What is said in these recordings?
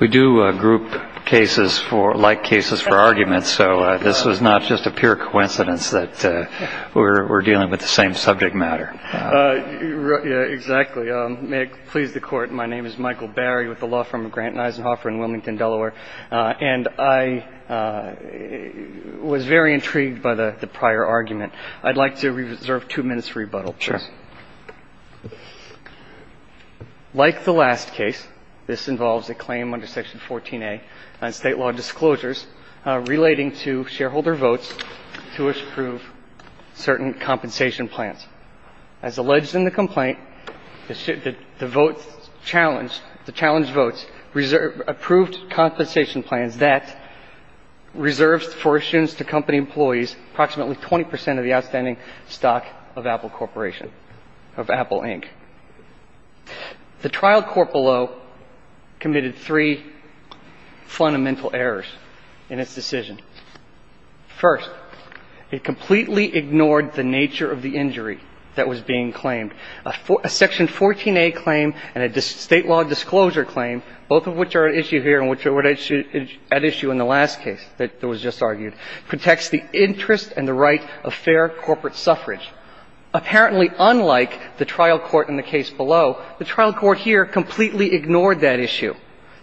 We do group cases like cases for arguments, so this was not just a pure coincidence that we're dealing with the same subject matter. Exactly. May it please the Court, my name is Michael Barry with the Law Firm of Grant & Eisenhoffer in Wilmington, Delaware. And I was very intrigued by the prior argument. I'd like to reserve two minutes for rebuttal. Sure. Like the last case, this involves a claim under Section 14A on state law disclosures relating to shareholder votes to approve certain compensation plans. As alleged in the complaint, the votes challenged, the challenged votes approved compensation plans that reserves fortunes to company employees approximately 20 percent of the outstanding stock of Apple Corporation. The trial court below committed three fundamental errors in its decision. First, it completely ignored the nature of the injury that was being claimed. A Section 14A claim and a state law disclosure claim, both of which are at issue here and which were at issue in the last case that was just argued, protects the interest and the right of fair corporate suffrage. Apparently, unlike the trial court in the case below, the trial court here completely ignored that issue.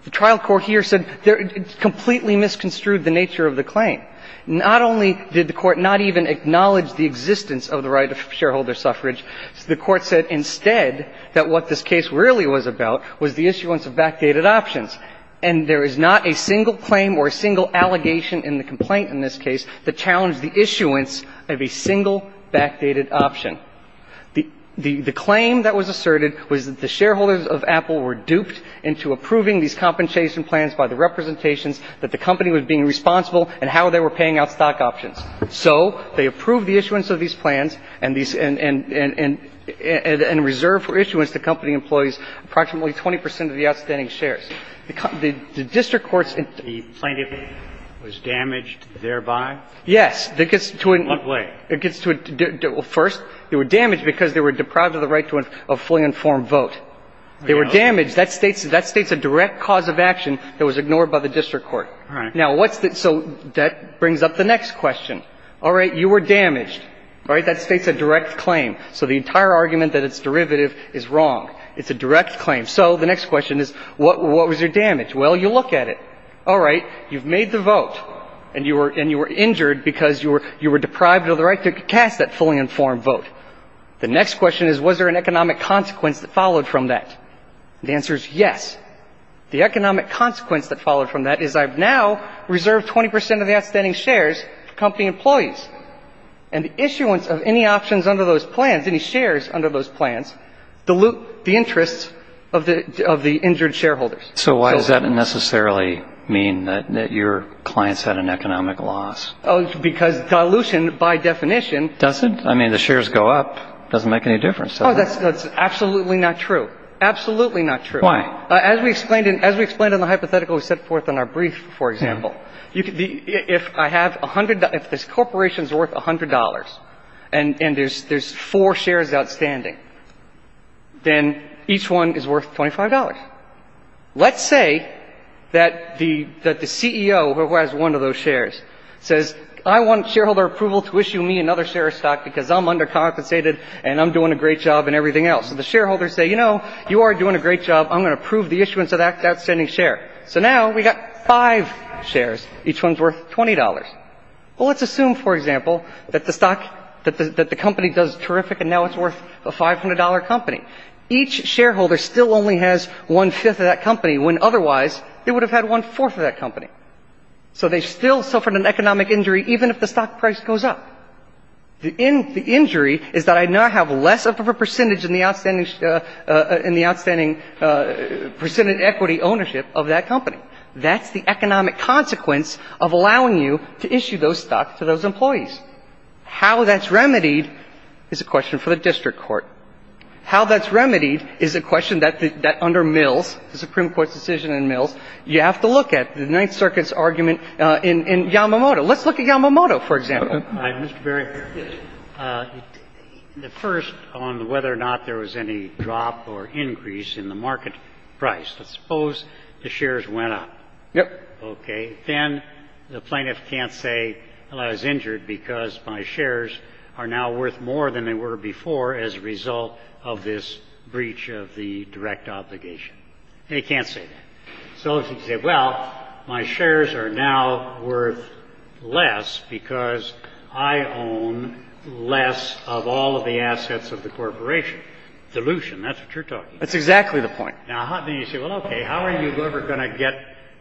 The trial court here said it completely misconstrued the nature of the claim. Not only did the Court not even acknowledge the existence of the right of shareholder suffrage, the Court said instead that what this case really was about was the issuance of backdated options. And there is not a single claim or a single allegation in the complaint in this case that challenged the issuance of a single backdated option. The claim that was asserted was that the shareholders of Apple were duped into approving these compensation plans by the representations that the company was being responsible and how they were paying out stock options. So they approved the issuance of these plans and these – and reserved for issuance the company employees approximately 20 percent of the outstanding shares. The district court's – The plaintiff was damaged thereby? Yes. It gets to a – What way? It gets to a – well, first, they were damaged because they were deprived of the right to a fully informed vote. They were damaged. That states – that states a direct cause of action that was ignored by the district court. All right. Now, what's the – so that brings up the next question. All right. You were damaged. All right. That states a direct claim. So the entire argument that it's derivative is wrong. It's a direct claim. So the next question is, what was your damage? Well, you look at it. All right. You've made the vote, and you were – and you were injured because you were deprived of the right to cast that fully informed vote. The next question is, was there an economic consequence that followed from that? The answer is yes. The economic consequence that followed from that is I've now reserved 20 percent of the outstanding shares for company employees. And the issuance of any options under those plans, any shares under those plans, dilute the interests of the – of the injured shareholders. So why does that necessarily mean that your clients had an economic loss? Oh, because dilution, by definition – Does it? I mean, the shares go up. It doesn't make any difference, does it? Oh, that's absolutely not true. Absolutely not true. Why? As we explained in – as we explained in the hypothetical we set forth in our brief, for example, if I have 100 – if this corporation is worth $100 and there's four shares outstanding, then each one is worth $25. Let's say that the CEO who has one of those shares says, I want shareholder approval to issue me another share of stock because I'm undercompensated and I'm doing a great job and everything else. And the shareholders say, you know, you are doing a great job. I'm going to approve the issuance of that outstanding share. So now we've got five shares. Each one is worth $20. Well, let's assume, for example, that the stock – that the company does terrific and now it's worth a $500 company. Each shareholder still only has one-fifth of that company when otherwise they would have had one-fourth of that company. So they still suffered an economic injury even if the stock price goes up. The injury is that I now have less of a percentage in the outstanding – in the outstanding percentage equity ownership of that company. That's the economic consequence of allowing you to issue those stocks to those employees. How that's remedied is a question for the district court. How that's remedied is a question that under Mills, the Supreme Court's decision in Mills, you have to look at the Ninth Circuit's argument in Yamamoto. Let's look at Yamamoto, for example. Mr. Verrilli. The first on whether or not there was any drop or increase in the market price. Let's suppose the shares went up. Yep. Okay. Then the plaintiff can't say, well, I was injured because my shares are now worth more than they were before as a result of this breach of the direct obligation. They can't say that. So he can say, well, my shares are now worth less because I own less of all of the assets of the corporation. Dilution. That's what you're talking about. That's exactly the point. Now, then you say, well, okay, how are you ever going to get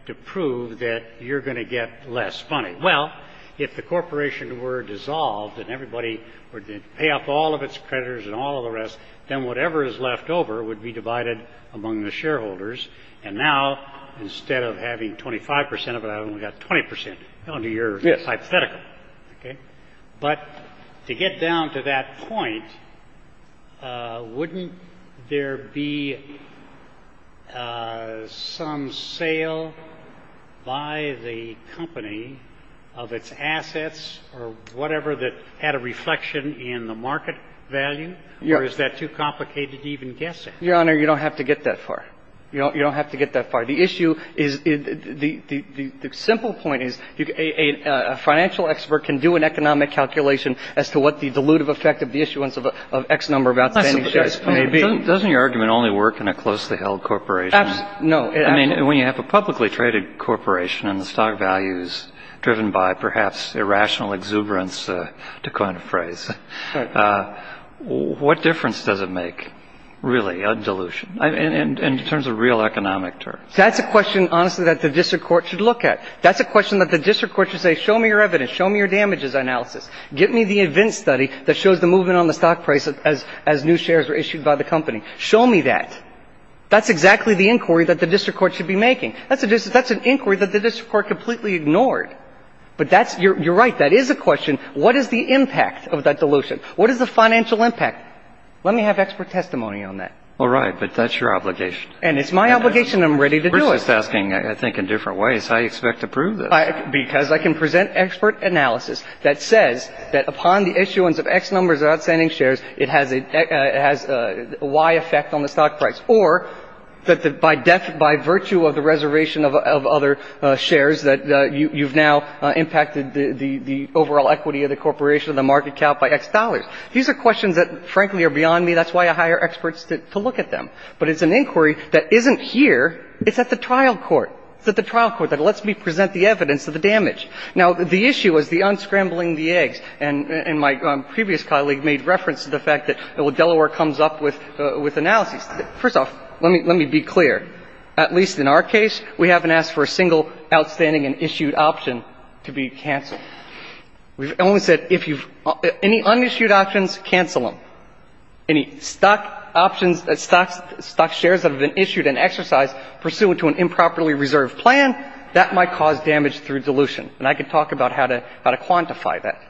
to prove that you're going to get less money? Well, if the corporation were dissolved and everybody were to pay off all of its creditors and all of the rest, then whatever is left over would be divided among the shareholders. And now instead of having 25 percent of it, I've only got 20 percent under your hypothetical. Okay? But to get down to that point, wouldn't there be some sale by the company of its assets or whatever that had a reflection in the market value? Yeah. Or is that too complicated to even guess at? Your Honor, you don't have to get that far. You don't have to get that far. The issue is the simple point is a financial expert can do an economic calculation as to what the dilutive effect of the issuance of X number of outstanding shares may be. Doesn't your argument only work in a closely held corporation? No. I mean, when you have a publicly traded corporation and the stock value is driven by perhaps irrational exuberance, to coin a phrase, what difference does it make, really, on dilution? In terms of real economic terms. That's a question, honestly, that the district court should look at. That's a question that the district court should say, show me your evidence. Show me your damages analysis. Get me the event study that shows the movement on the stock price as new shares were issued by the company. Show me that. That's exactly the inquiry that the district court should be making. That's an inquiry that the district court completely ignored. But you're right. That is a question. What is the impact of that dilution? What is the financial impact? Let me have expert testimony on that. All right. But that's your obligation. And it's my obligation. I'm ready to do it. We're just asking, I think, in different ways. I expect to prove this. Because I can present expert analysis that says that upon the issuance of X numbers of outstanding shares, it has a Y effect on the stock price, or that by virtue of the reservation of other shares, that you've now impacted the overall equity of the corporation, the market cap, by X dollars. These are questions that, frankly, are beyond me. That's why I hire experts to look at them. But it's an inquiry that isn't here. It's at the trial court. It's at the trial court that lets me present the evidence of the damage. Now, the issue is the unscrambling the eggs. And my previous colleague made reference to the fact that Delaware comes up with analyses. First off, let me be clear. At least in our case, we haven't asked for a single outstanding and issued option to be canceled. We've only said if you've – any unissued options, cancel them. Any stock options – stock shares that have been issued and exercised pursuant to an improperly reserved plan, that might cause damage through dilution. And I can talk about how to quantify that.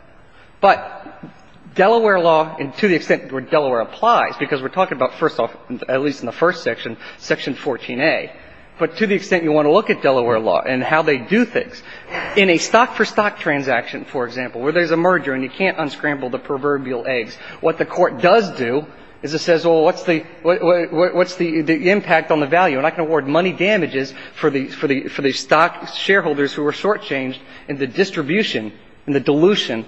But Delaware law, and to the extent where Delaware applies, because we're talking about, first off, at least in the first section, Section 14A, but to the extent you want to look at Delaware law and how they do things, in a stock-for-stock transaction, for example, where there's a merger and you can't unscramble the proverbial eggs, what the Court does do is it says, well, what's the – what's the impact on the value? And I can award money damages for the – for the stock shareholders who were shortchanged in the distribution and the dilution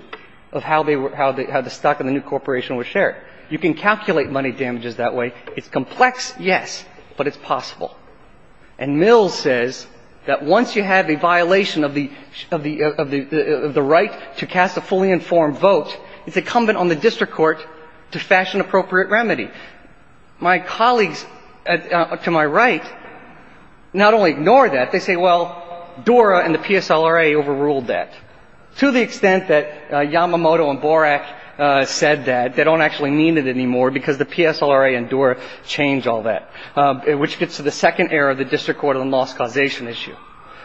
of how they were – how the stock in the new corporation was shared. You can calculate money damages that way. It's complex, yes, but it's possible. And Mills says that once you have a violation of the – of the right to cast a fully informed vote, it's incumbent on the district court to fashion appropriate remedy. My colleagues to my right not only ignore that. They say, well, Dura and the PSLRA overruled that, to the extent that Yamamoto and Borak said that. They don't actually mean it anymore because the PSLRA and Dura changed all that, which gets to the second error of the district court on the loss causation issue.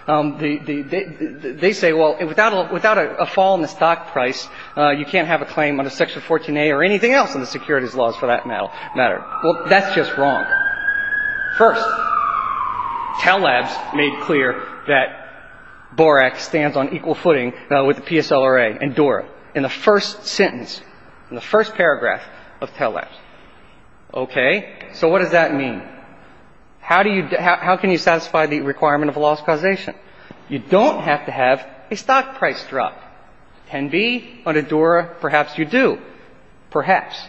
They say, well, without a – without a fall in the stock price, you can't have a claim under Section 14A or anything else in the securities laws for that matter. Well, that's just wrong. First, Tell Labs made clear that Borak stands on equal footing with the PSLRA and Dura in the first sentence, in the first paragraph of Tell Labs. Okay. So what does that mean? How do you – how can you satisfy the requirement of a loss causation? You don't have to have a stock price drop. 10b, under Dura, perhaps you do. Perhaps.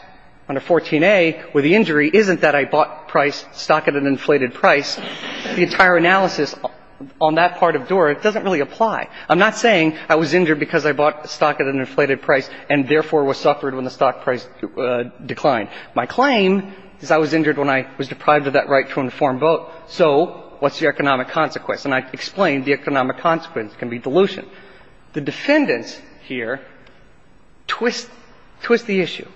Under 14A, where the injury isn't that I bought price – stock at an inflated price, the entire analysis on that part of Dura doesn't really apply. I'm not saying I was injured because I bought stock at an inflated price and, therefore, was suffered when the stock price declined. My claim is I was injured when I was deprived of that right to an informed vote. So what's the economic consequence? And I explained the economic consequence can be dilution. The defendants here twist – twist the issue.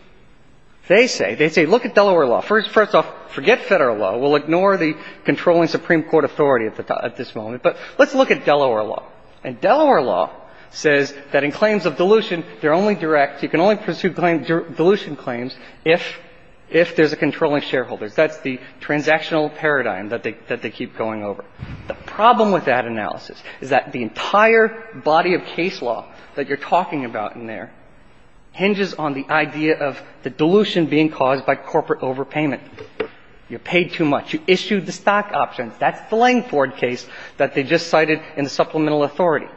They say – they say look at Delaware law. First off, forget Federal law. We'll ignore the controlling Supreme Court authority at this moment. But let's look at Delaware law. And Delaware law says that in claims of dilution, they're only direct. You can only pursue claims – dilution claims if – if there's a controlling shareholder. That's the transactional paradigm that they – that they keep going over. The problem with that analysis is that the entire body of case law that you're talking about in there hinges on the idea of the dilution being caused by corporate overpayment. You paid too much. You issued the stock options. That's the Langford case that they just cited in the supplemental authority.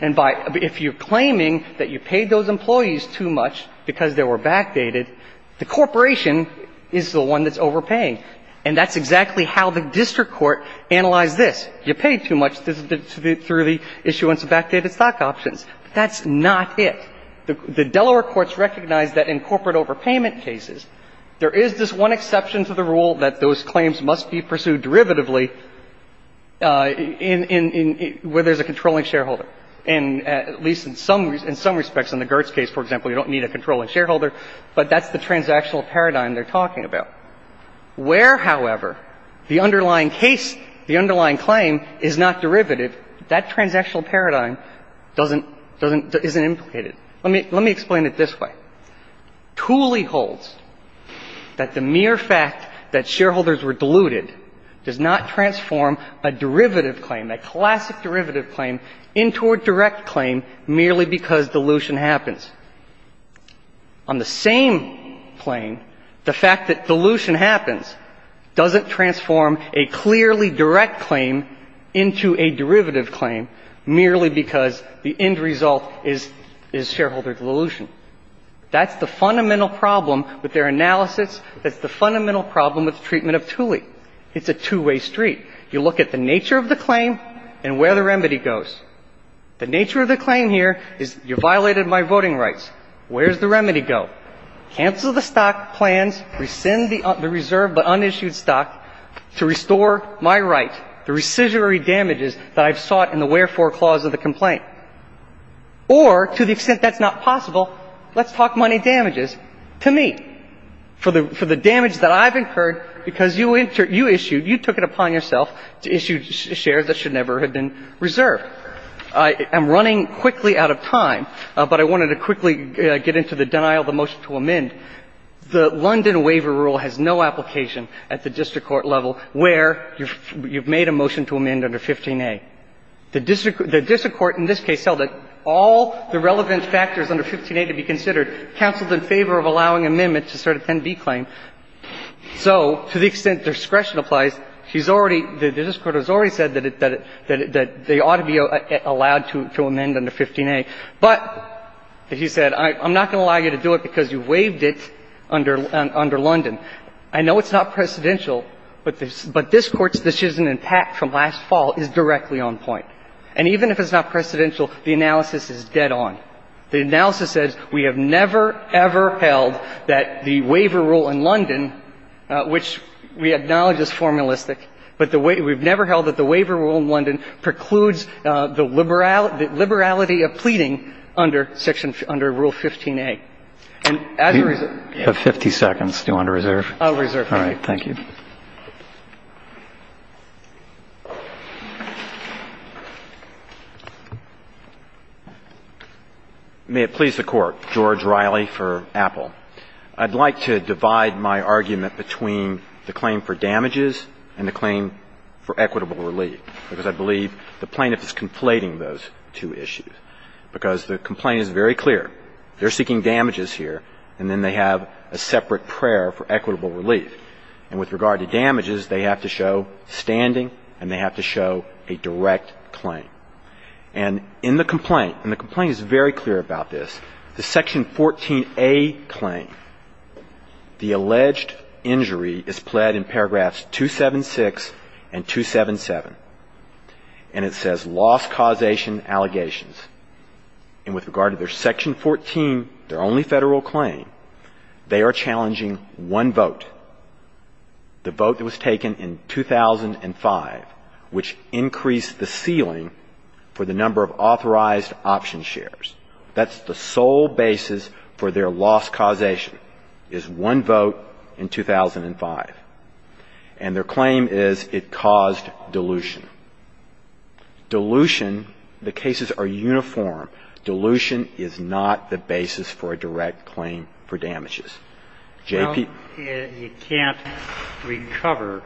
And by – if you're claiming that you paid those employees too much because they were backdated, the corporation is the one that's overpaying. And that's exactly how the district court analyzed this. You paid too much through the issuance of backdated stock options. That's not it. The Delaware courts recognize that in corporate overpayment cases, there is this one And at least in some – in some respects, in the Gertz case, for example, you don't need a controlling shareholder. But that's the transactional paradigm they're talking about. Where, however, the underlying case – the underlying claim is not derivative, that transactional paradigm doesn't – doesn't – isn't implicated. Let me – let me explain it this way. Cooley holds that the mere fact that shareholders were diluted does not transform a derivative claim, a classic derivative claim into a direct claim merely because dilution happens. On the same claim, the fact that dilution happens doesn't transform a clearly direct claim into a derivative claim merely because the end result is – is shareholder dilution. That's the fundamental problem with their analysis. That's the fundamental problem with the treatment of Cooley. It's a two-way street. You look at the nature of the claim and where the remedy goes. The nature of the claim here is you violated my voting rights. Where does the remedy go? Cancel the stock plans, rescind the – the reserved but unissued stock to restore my right, the rescissionary damages that I've sought in the wherefore clause of the complaint. Or, to the extent that's not possible, let's talk money damages to me for the – for the reasons that you issued. You took it upon yourself to issue shares that should never have been reserved. I'm running quickly out of time, but I wanted to quickly get into the denial of the motion to amend. The London Waiver Rule has no application at the district court level where you've made a motion to amend under 15a. The district court in this case held that all the relevant factors under 15a to be considered, counseled in favor of allowing amendments to start a 10b claim. So, to the extent discretion applies, she's already – the district court has already said that it – that it – that they ought to be allowed to amend under 15a. But, as you said, I'm not going to allow you to do it because you waived it under – under London. I know it's not precedential, but this – but this Court's decision in Pack from last fall is directly on point. And even if it's not precedential, the analysis is dead on. The analysis says we have never, ever held that the Waiver Rule in London, which we acknowledge is formalistic, but the – we've never held that the Waiver Rule in London precludes the liberal – the liberality of pleading under section – under Rule 15a. And as a reserve – You have 50 seconds. Do you want to reserve? I'll reserve. All right. Thank you. May it please the Court. George Riley for Apple. I'd like to divide my argument between the claim for damages and the claim for equitable relief, because I believe the plaintiff is conflating those two issues, because the complaint is very clear. They're seeking damages here, and then they have a separate prayer for equitable relief. And with regard to damages, they have to show standing, and they have to show a direct claim. And in the complaint – and the complaint is very clear about this – the section 14a claim, the alleged injury is pled in paragraphs 276 and 277. And it says, loss, causation, allegations. And with regard to their section 14, their only federal claim, they are challenging one vote, the vote that was taken in 2005, which increased the ceiling for the number of authorized option shares. That's the sole basis for their loss causation, is one vote in 2005. And their claim is it caused dilution. Dilution – the cases are uniform. Dilution is not the basis for a direct claim for damages. J.P. Well, you can't recover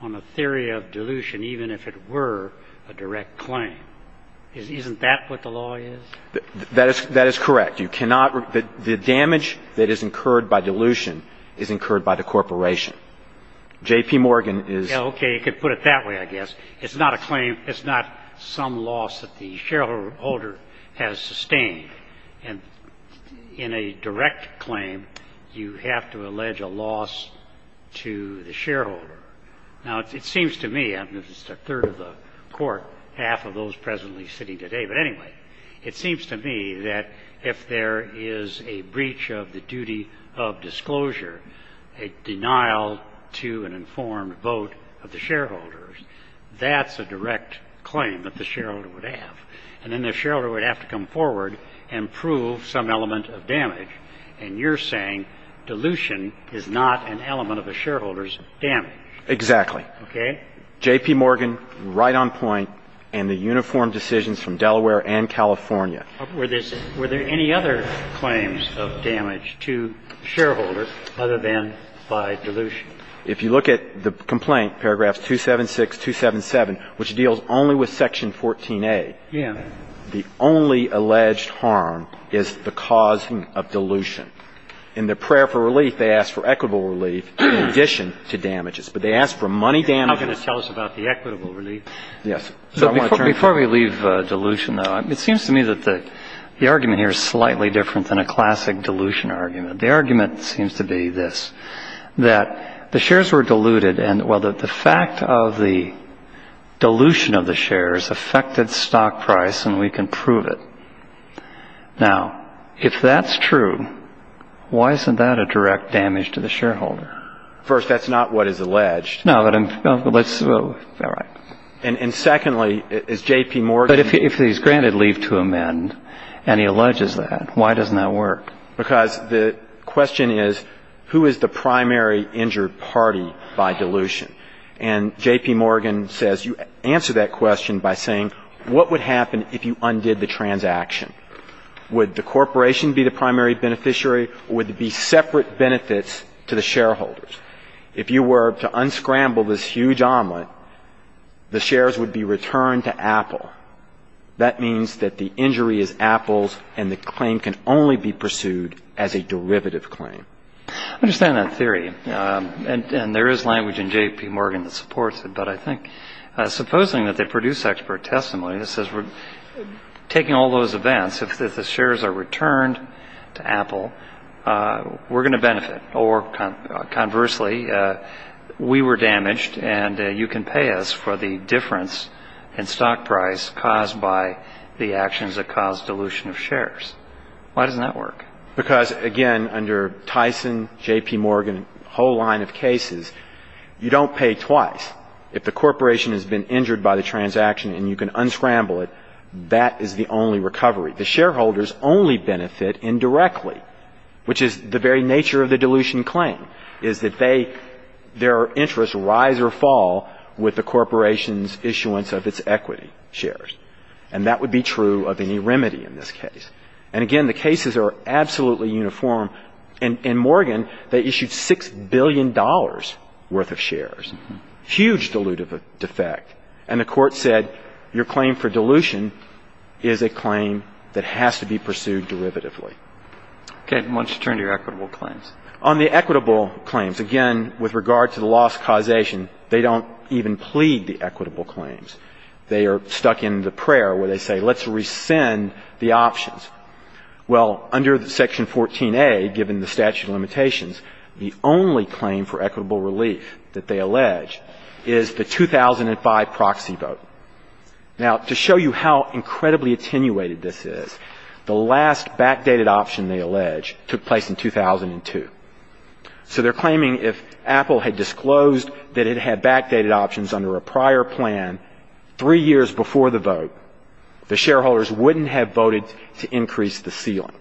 on a theory of dilution even if it were a direct claim. Isn't that what the law is? That is correct. You cannot – the damage that is incurred by dilution is incurred by the corporation. J.P. Morgan is – Okay. You could put it that way, I guess. It's not a claim – it's not some loss that the shareholder has sustained. And in a direct claim, you have to allege a loss to the shareholder. Now, it seems to me – I'm just a third of the court, half of those presently sitting today – but anyway, it seems to me that if there is a breach of the duty of disclosure, a denial to an informed vote of the shareholders, that's a direct claim that the shareholder would have. And then the shareholder would have to come forward and prove some element of damage. And you're saying dilution is not an element of a shareholder's damage. Exactly. Okay. J.P. Morgan, right on point, and the uniform decisions from Delaware and California. Were there any other claims of damage to shareholders other than by dilution? If you look at the complaint, paragraphs 276, 277, which deals only with section 14a, the only alleged harm is the causing of dilution. In their prayer for relief, they ask for equitable relief in addition to damages. But they ask for money damages. How can you tell us about the equitable relief? Yes. Before we leave dilution, though, it seems to me that the argument here is slightly different than a classic dilution argument. The argument seems to be this, that the shares were diluted. Well, the fact of the dilution of the shares affected stock price, and we can prove it. Now, if that's true, why isn't that a direct damage to the shareholder? First, that's not what is alleged. No, but I'm... All right. And secondly, is J.P. Morgan... But if he's granted leave to amend, and he alleges that, why doesn't that work? Because the question is, who is the primary injured party by dilution? And J.P. Morgan says, you answer that question by saying, what would happen if you undid the transaction? Would the corporation be the primary beneficiary, or would it be separate benefits to the shareholders? If you were to unscramble this huge omelet, the shares would be returned to Apple. That means that the injury is Apple's, and the claim can only be pursued as a derivative claim. I understand that theory. And there is language in J.P. Morgan that supports it. But I think, supposing that they produce expert testimony that says, taking all those events, if the shares are returned to Apple, we're going to benefit. Or, conversely, we were damaged, and you can pay us for the difference in stock price caused by the actions that caused dilution of shares. Why doesn't that work? Because, again, under Tyson, J.P. Morgan, whole line of cases, you don't pay twice. If the corporation has been injured by the transaction, and you can unscramble it, that is the only recovery. The shareholders only benefit indirectly, which is the very nature of the dilution claim, is that their interests rise or fall with the corporation's issuance of its equity shares. And that would be true of any remedy in this case. And, again, the cases are absolutely uniform. In Morgan, they issued $6 billion worth of shares. Huge dilutive effect. And the court said, your claim for dilution is a claim that has to be pursued derivatively. Okay. Why don't you turn to your equitable claims? On the equitable claims, again, with regard to the loss causation, they don't even plead the equitable claims. They are stuck in the prayer where they say, let's rescind the options. Well, under Section 14A, given the statute of limitations, the only claim for equitable relief that they Now, to show you how incredibly attenuated this is, the last backdated option they allege took place in 2002. So they're claiming if Apple had disclosed that it had backdated options under a prior plan three years before the vote, the shareholders wouldn't have voted to increase the ceiling.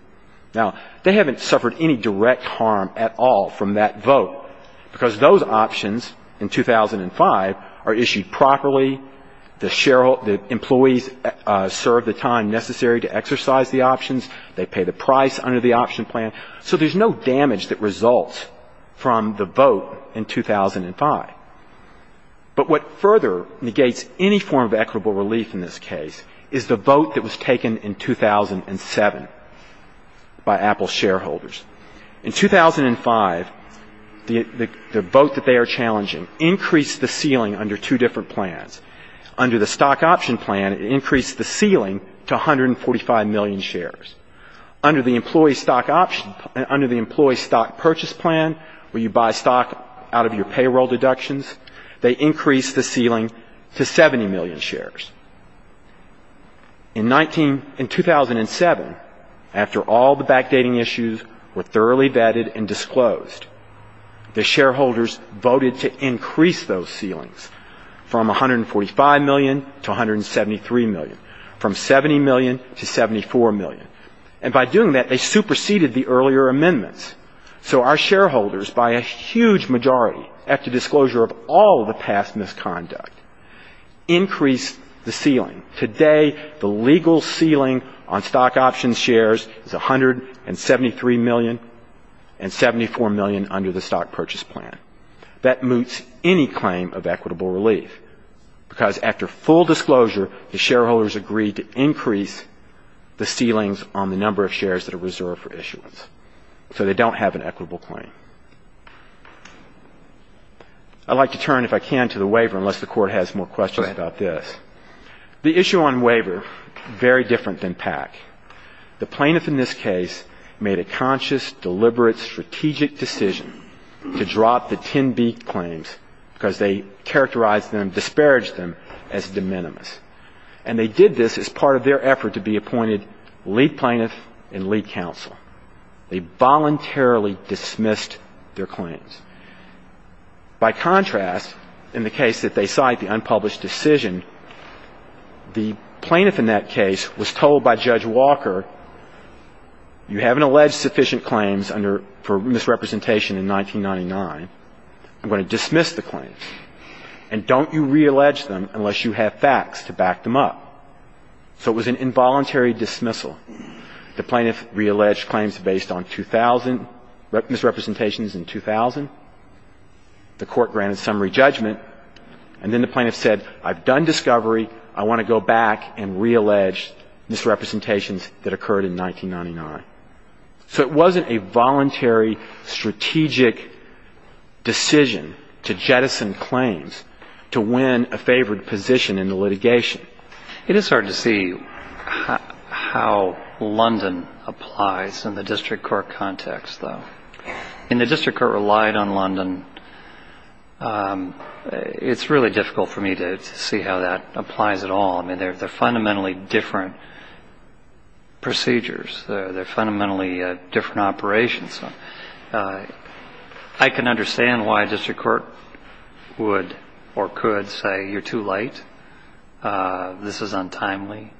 Now, they haven't suffered any direct harm at all from that vote, because those options in 2005 are issued properly, the employees serve the time necessary to exercise the options, they pay the price under the option plan. So there's no damage that results from the vote in 2005. But what further negates any form of equitable relief in this case is the vote that was taken in 2007 by Apple shareholders. In 2005, the vote that they are challenging increased the ceiling under two different plans. Under the stock option plan, it increased the ceiling to 145 million shares. Under the employee stock option, under the employee stock purchase plan, where you buy stock out of your payroll deductions, they increased the ceiling to 70 million shares. In 2007, after all the backdating issues were thoroughly vetted and disclosed, the shareholders voted to increase those ceilings from 145 million to 173 million, from 70 million to 74 million. And by doing that, they superseded the earlier amendments. So our shareholders, by a huge majority, after disclosure of all the past misconduct, increased the ceiling. Today, the legal ceiling on stock option shares is 173 million and 74 million under the stock purchase plan. That moots any claim of equitable relief, because after full disclosure, the shareholders agreed to increase the ceilings on the number of shares that are reserved for issuance, so they don't have an equitable claim. I'd like to turn, if I can, to the waiver, unless the Court has more questions about this. The issue on waiver, very different than PAC, the plaintiff in this case made a conscious, deliberate, strategic decision to drop the 10B claims, because they characterized them, disparaged them as de minimis. And they did this as part of their effort to be appointed lead plaintiff and lead counsel. They voluntarily dismissed their claims. By contrast, in the case that they cite, the unpublished decision, the plaintiff in that case was told by Judge Walker, you haven't alleged sufficient claims for misrepresentation in 1999, I'm going to dismiss the claims. And don't you reallege them unless you have facts to back them up. So it was an involuntary dismissal. The plaintiff realleged claims based on 2,000 misrepresentations in 2000. The Court granted summary judgment, and then the plaintiff said, I've done discovery, I want to go back and reallege misrepresentations that occurred in 1999. So it wasn't a voluntary, strategic decision to jettison claims to win a favored position in the litigation. It is hard to see how London applies in the District Court context, though. In the District Court relied on London, it's really difficult for me to see how that applies at all. I mean, they're fundamentally different procedures, they're fundamentally different operations. I can understand why a District Court would or could say, you're too late, this is untimely,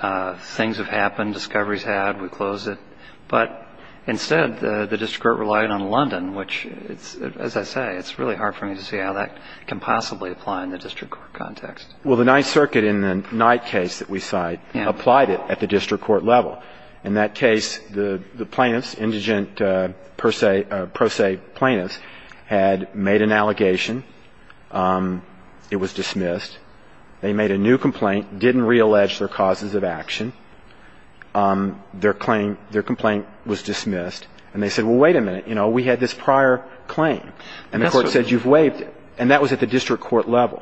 things have happened, discovery's had, we closed it. But instead, the District Court relied on London, which, as I say, it's really hard for me to see how that can possibly apply in the case that we cite, applied it at the District Court level. In that case, the plaintiffs, indigent pro se plaintiffs, had made an allegation, it was dismissed. They made a new complaint, didn't reallege their causes of action, their complaint was dismissed. And they said, well, wait a minute, we had this prior claim, and the Court said, you've waived it, and that was at the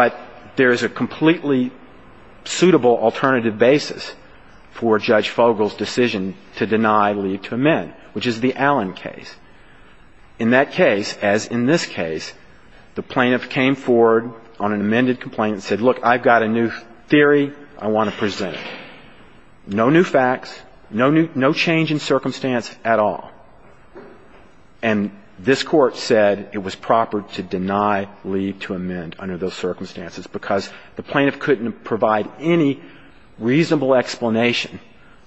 time, a completely suitable alternative basis for Judge Fogel's decision to deny leave to amend, which is the Allen case. In that case, as in this case, the plaintiff came forward on an amended complaint and said, look, I've got a new theory I want to present, no new facts, no change in circumstance at all. And this Court said it was proper to deny leave to amend under those circumstances because the plaintiff couldn't provide any reasonable explanation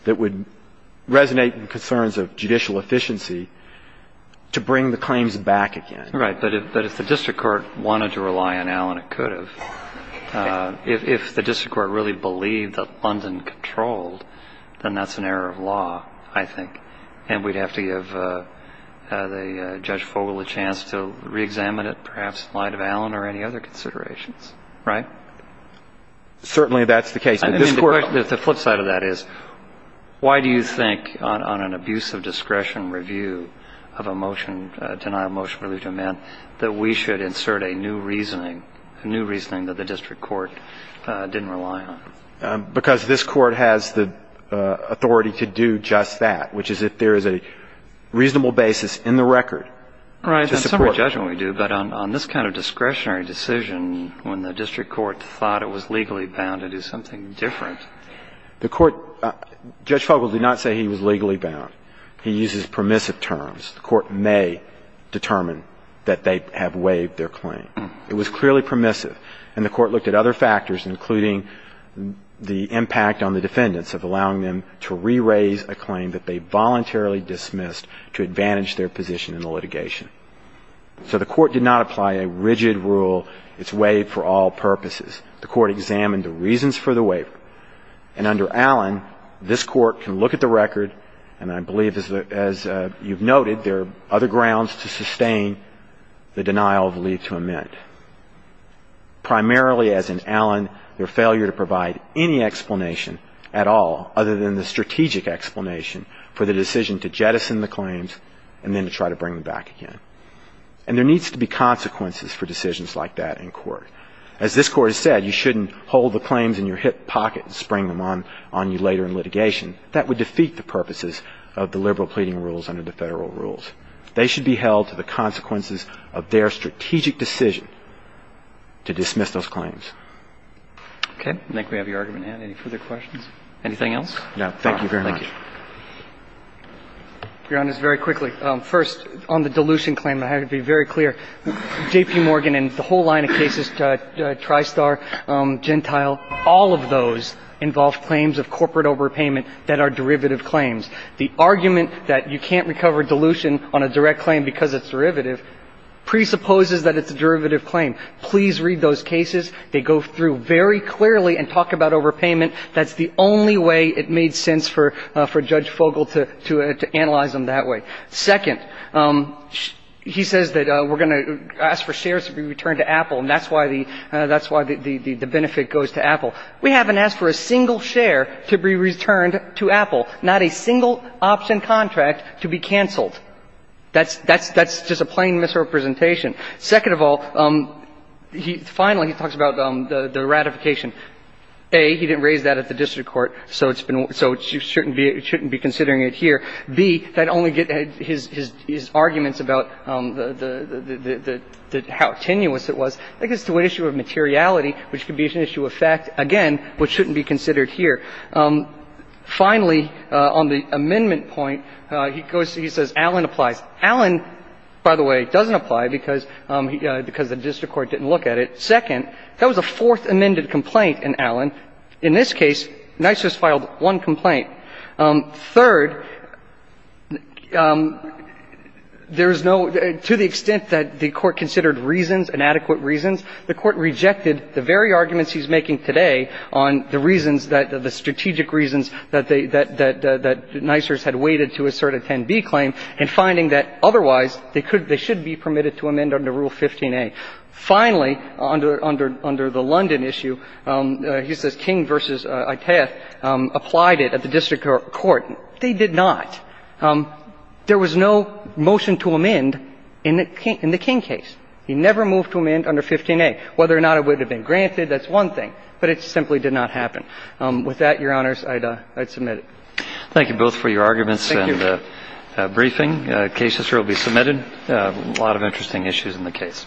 that would resonate in concerns of judicial efficiency to bring the claims back again. Right. But if the District Court wanted to rely on Allen, it could have. If the District Court really believed that London controlled, then that's an error of law, I think. And we'd have to give the Judge Fogel a chance to reexamine it, perhaps in light of Allen or any other considerations. Right. Certainly, that's the case. I mean, the flip side of that is, why do you think on an abuse of discretion review of a motion, a denial of motion for leave to amend, that we should insert a new reasoning, a new reasoning that the District Court didn't rely on? Because this Court has the authority to do just that, which is if there is a reasonable basis in the record to support. Well, in some of our judgment we do, but on this kind of discretionary decision, when the District Court thought it was legally bound, it is something different. The Court – Judge Fogel did not say he was legally bound. He uses permissive terms. The Court may determine that they have waived their claim. It was clearly permissive, and the Court looked at other factors, including the impact on the defendants of allowing them to re-raise a claim that they voluntarily dismissed to advantage their position in the litigation. So the Court did not apply a rigid rule, it's waived for all purposes. The Court examined the reasons for the waiver, and under Allen, this Court can look at the record, and I believe, as you've noted, there are other grounds to sustain the denial of leave to amend. Primarily, as in Allen, their failure to provide any explanation at all, other than the strategic explanation, for the decision to jettison the claims, and then to try to bring them back again. And there needs to be consequences for decisions like that in court. As this Court has said, you shouldn't hold the claims in your hip pocket and spring them on you later in litigation. That would defeat the purposes of the liberal pleading rules under the federal rules. They should be held to the consequences of their strategic decision to dismiss those claims. Okay, I think we have your argument, and any further questions? Anything else? No, thank you very much. Thank you. Your Honor, very quickly, first, on the dilution claim, I have to be very clear. J.P. Morgan and the whole line of cases, TriStar, Gentile, all of those involve claims of corporate overpayment that are derivative claims. The argument that you can't recover dilution on a direct claim because it's derivative presupposes that it's a derivative claim. Please read those cases, they go through very clearly and talk about overpayment. That's the only way it made sense for Judge Fogel to analyze them that way. Second, he says that we're going to ask for shares to be returned to Apple, and that's why the benefit goes to Apple. We haven't asked for a single share to be returned to Apple, not a single option contract to be canceled. That's just a plain misrepresentation. Second of all, finally, he talks about the ratification. A, he didn't raise that at the district court, so it shouldn't be considering it here. B, his arguments about how tenuous it was, I think it's an issue of materiality, which could be an issue of fact, again, which shouldn't be considered here. Finally, on the amendment point, he says Allen applies. Allen, by the way, doesn't apply because the district court didn't look at it. Second, that was a fourth amended complaint in Allen. In this case, Nysers filed one complaint. Third, there's no to the extent that the court considered reasons, inadequate reasons, the court rejected the very arguments he's making today on the reasons, the strategic reasons that Nysers had waited to assert a 10b claim and finding that otherwise they should be permitted to amend under Rule 15a. Finally, under the London issue, he says King v. Itaeth applied it at the district court. They did not. There was no motion to amend in the King case. He never moved to amend under 15a. Whether or not it would have been granted, that's one thing, but it simply did not happen. With that, Your Honors, I'd submit it. Thank you both for your arguments and briefing. The case history will be submitted. A lot of interesting issues in the case.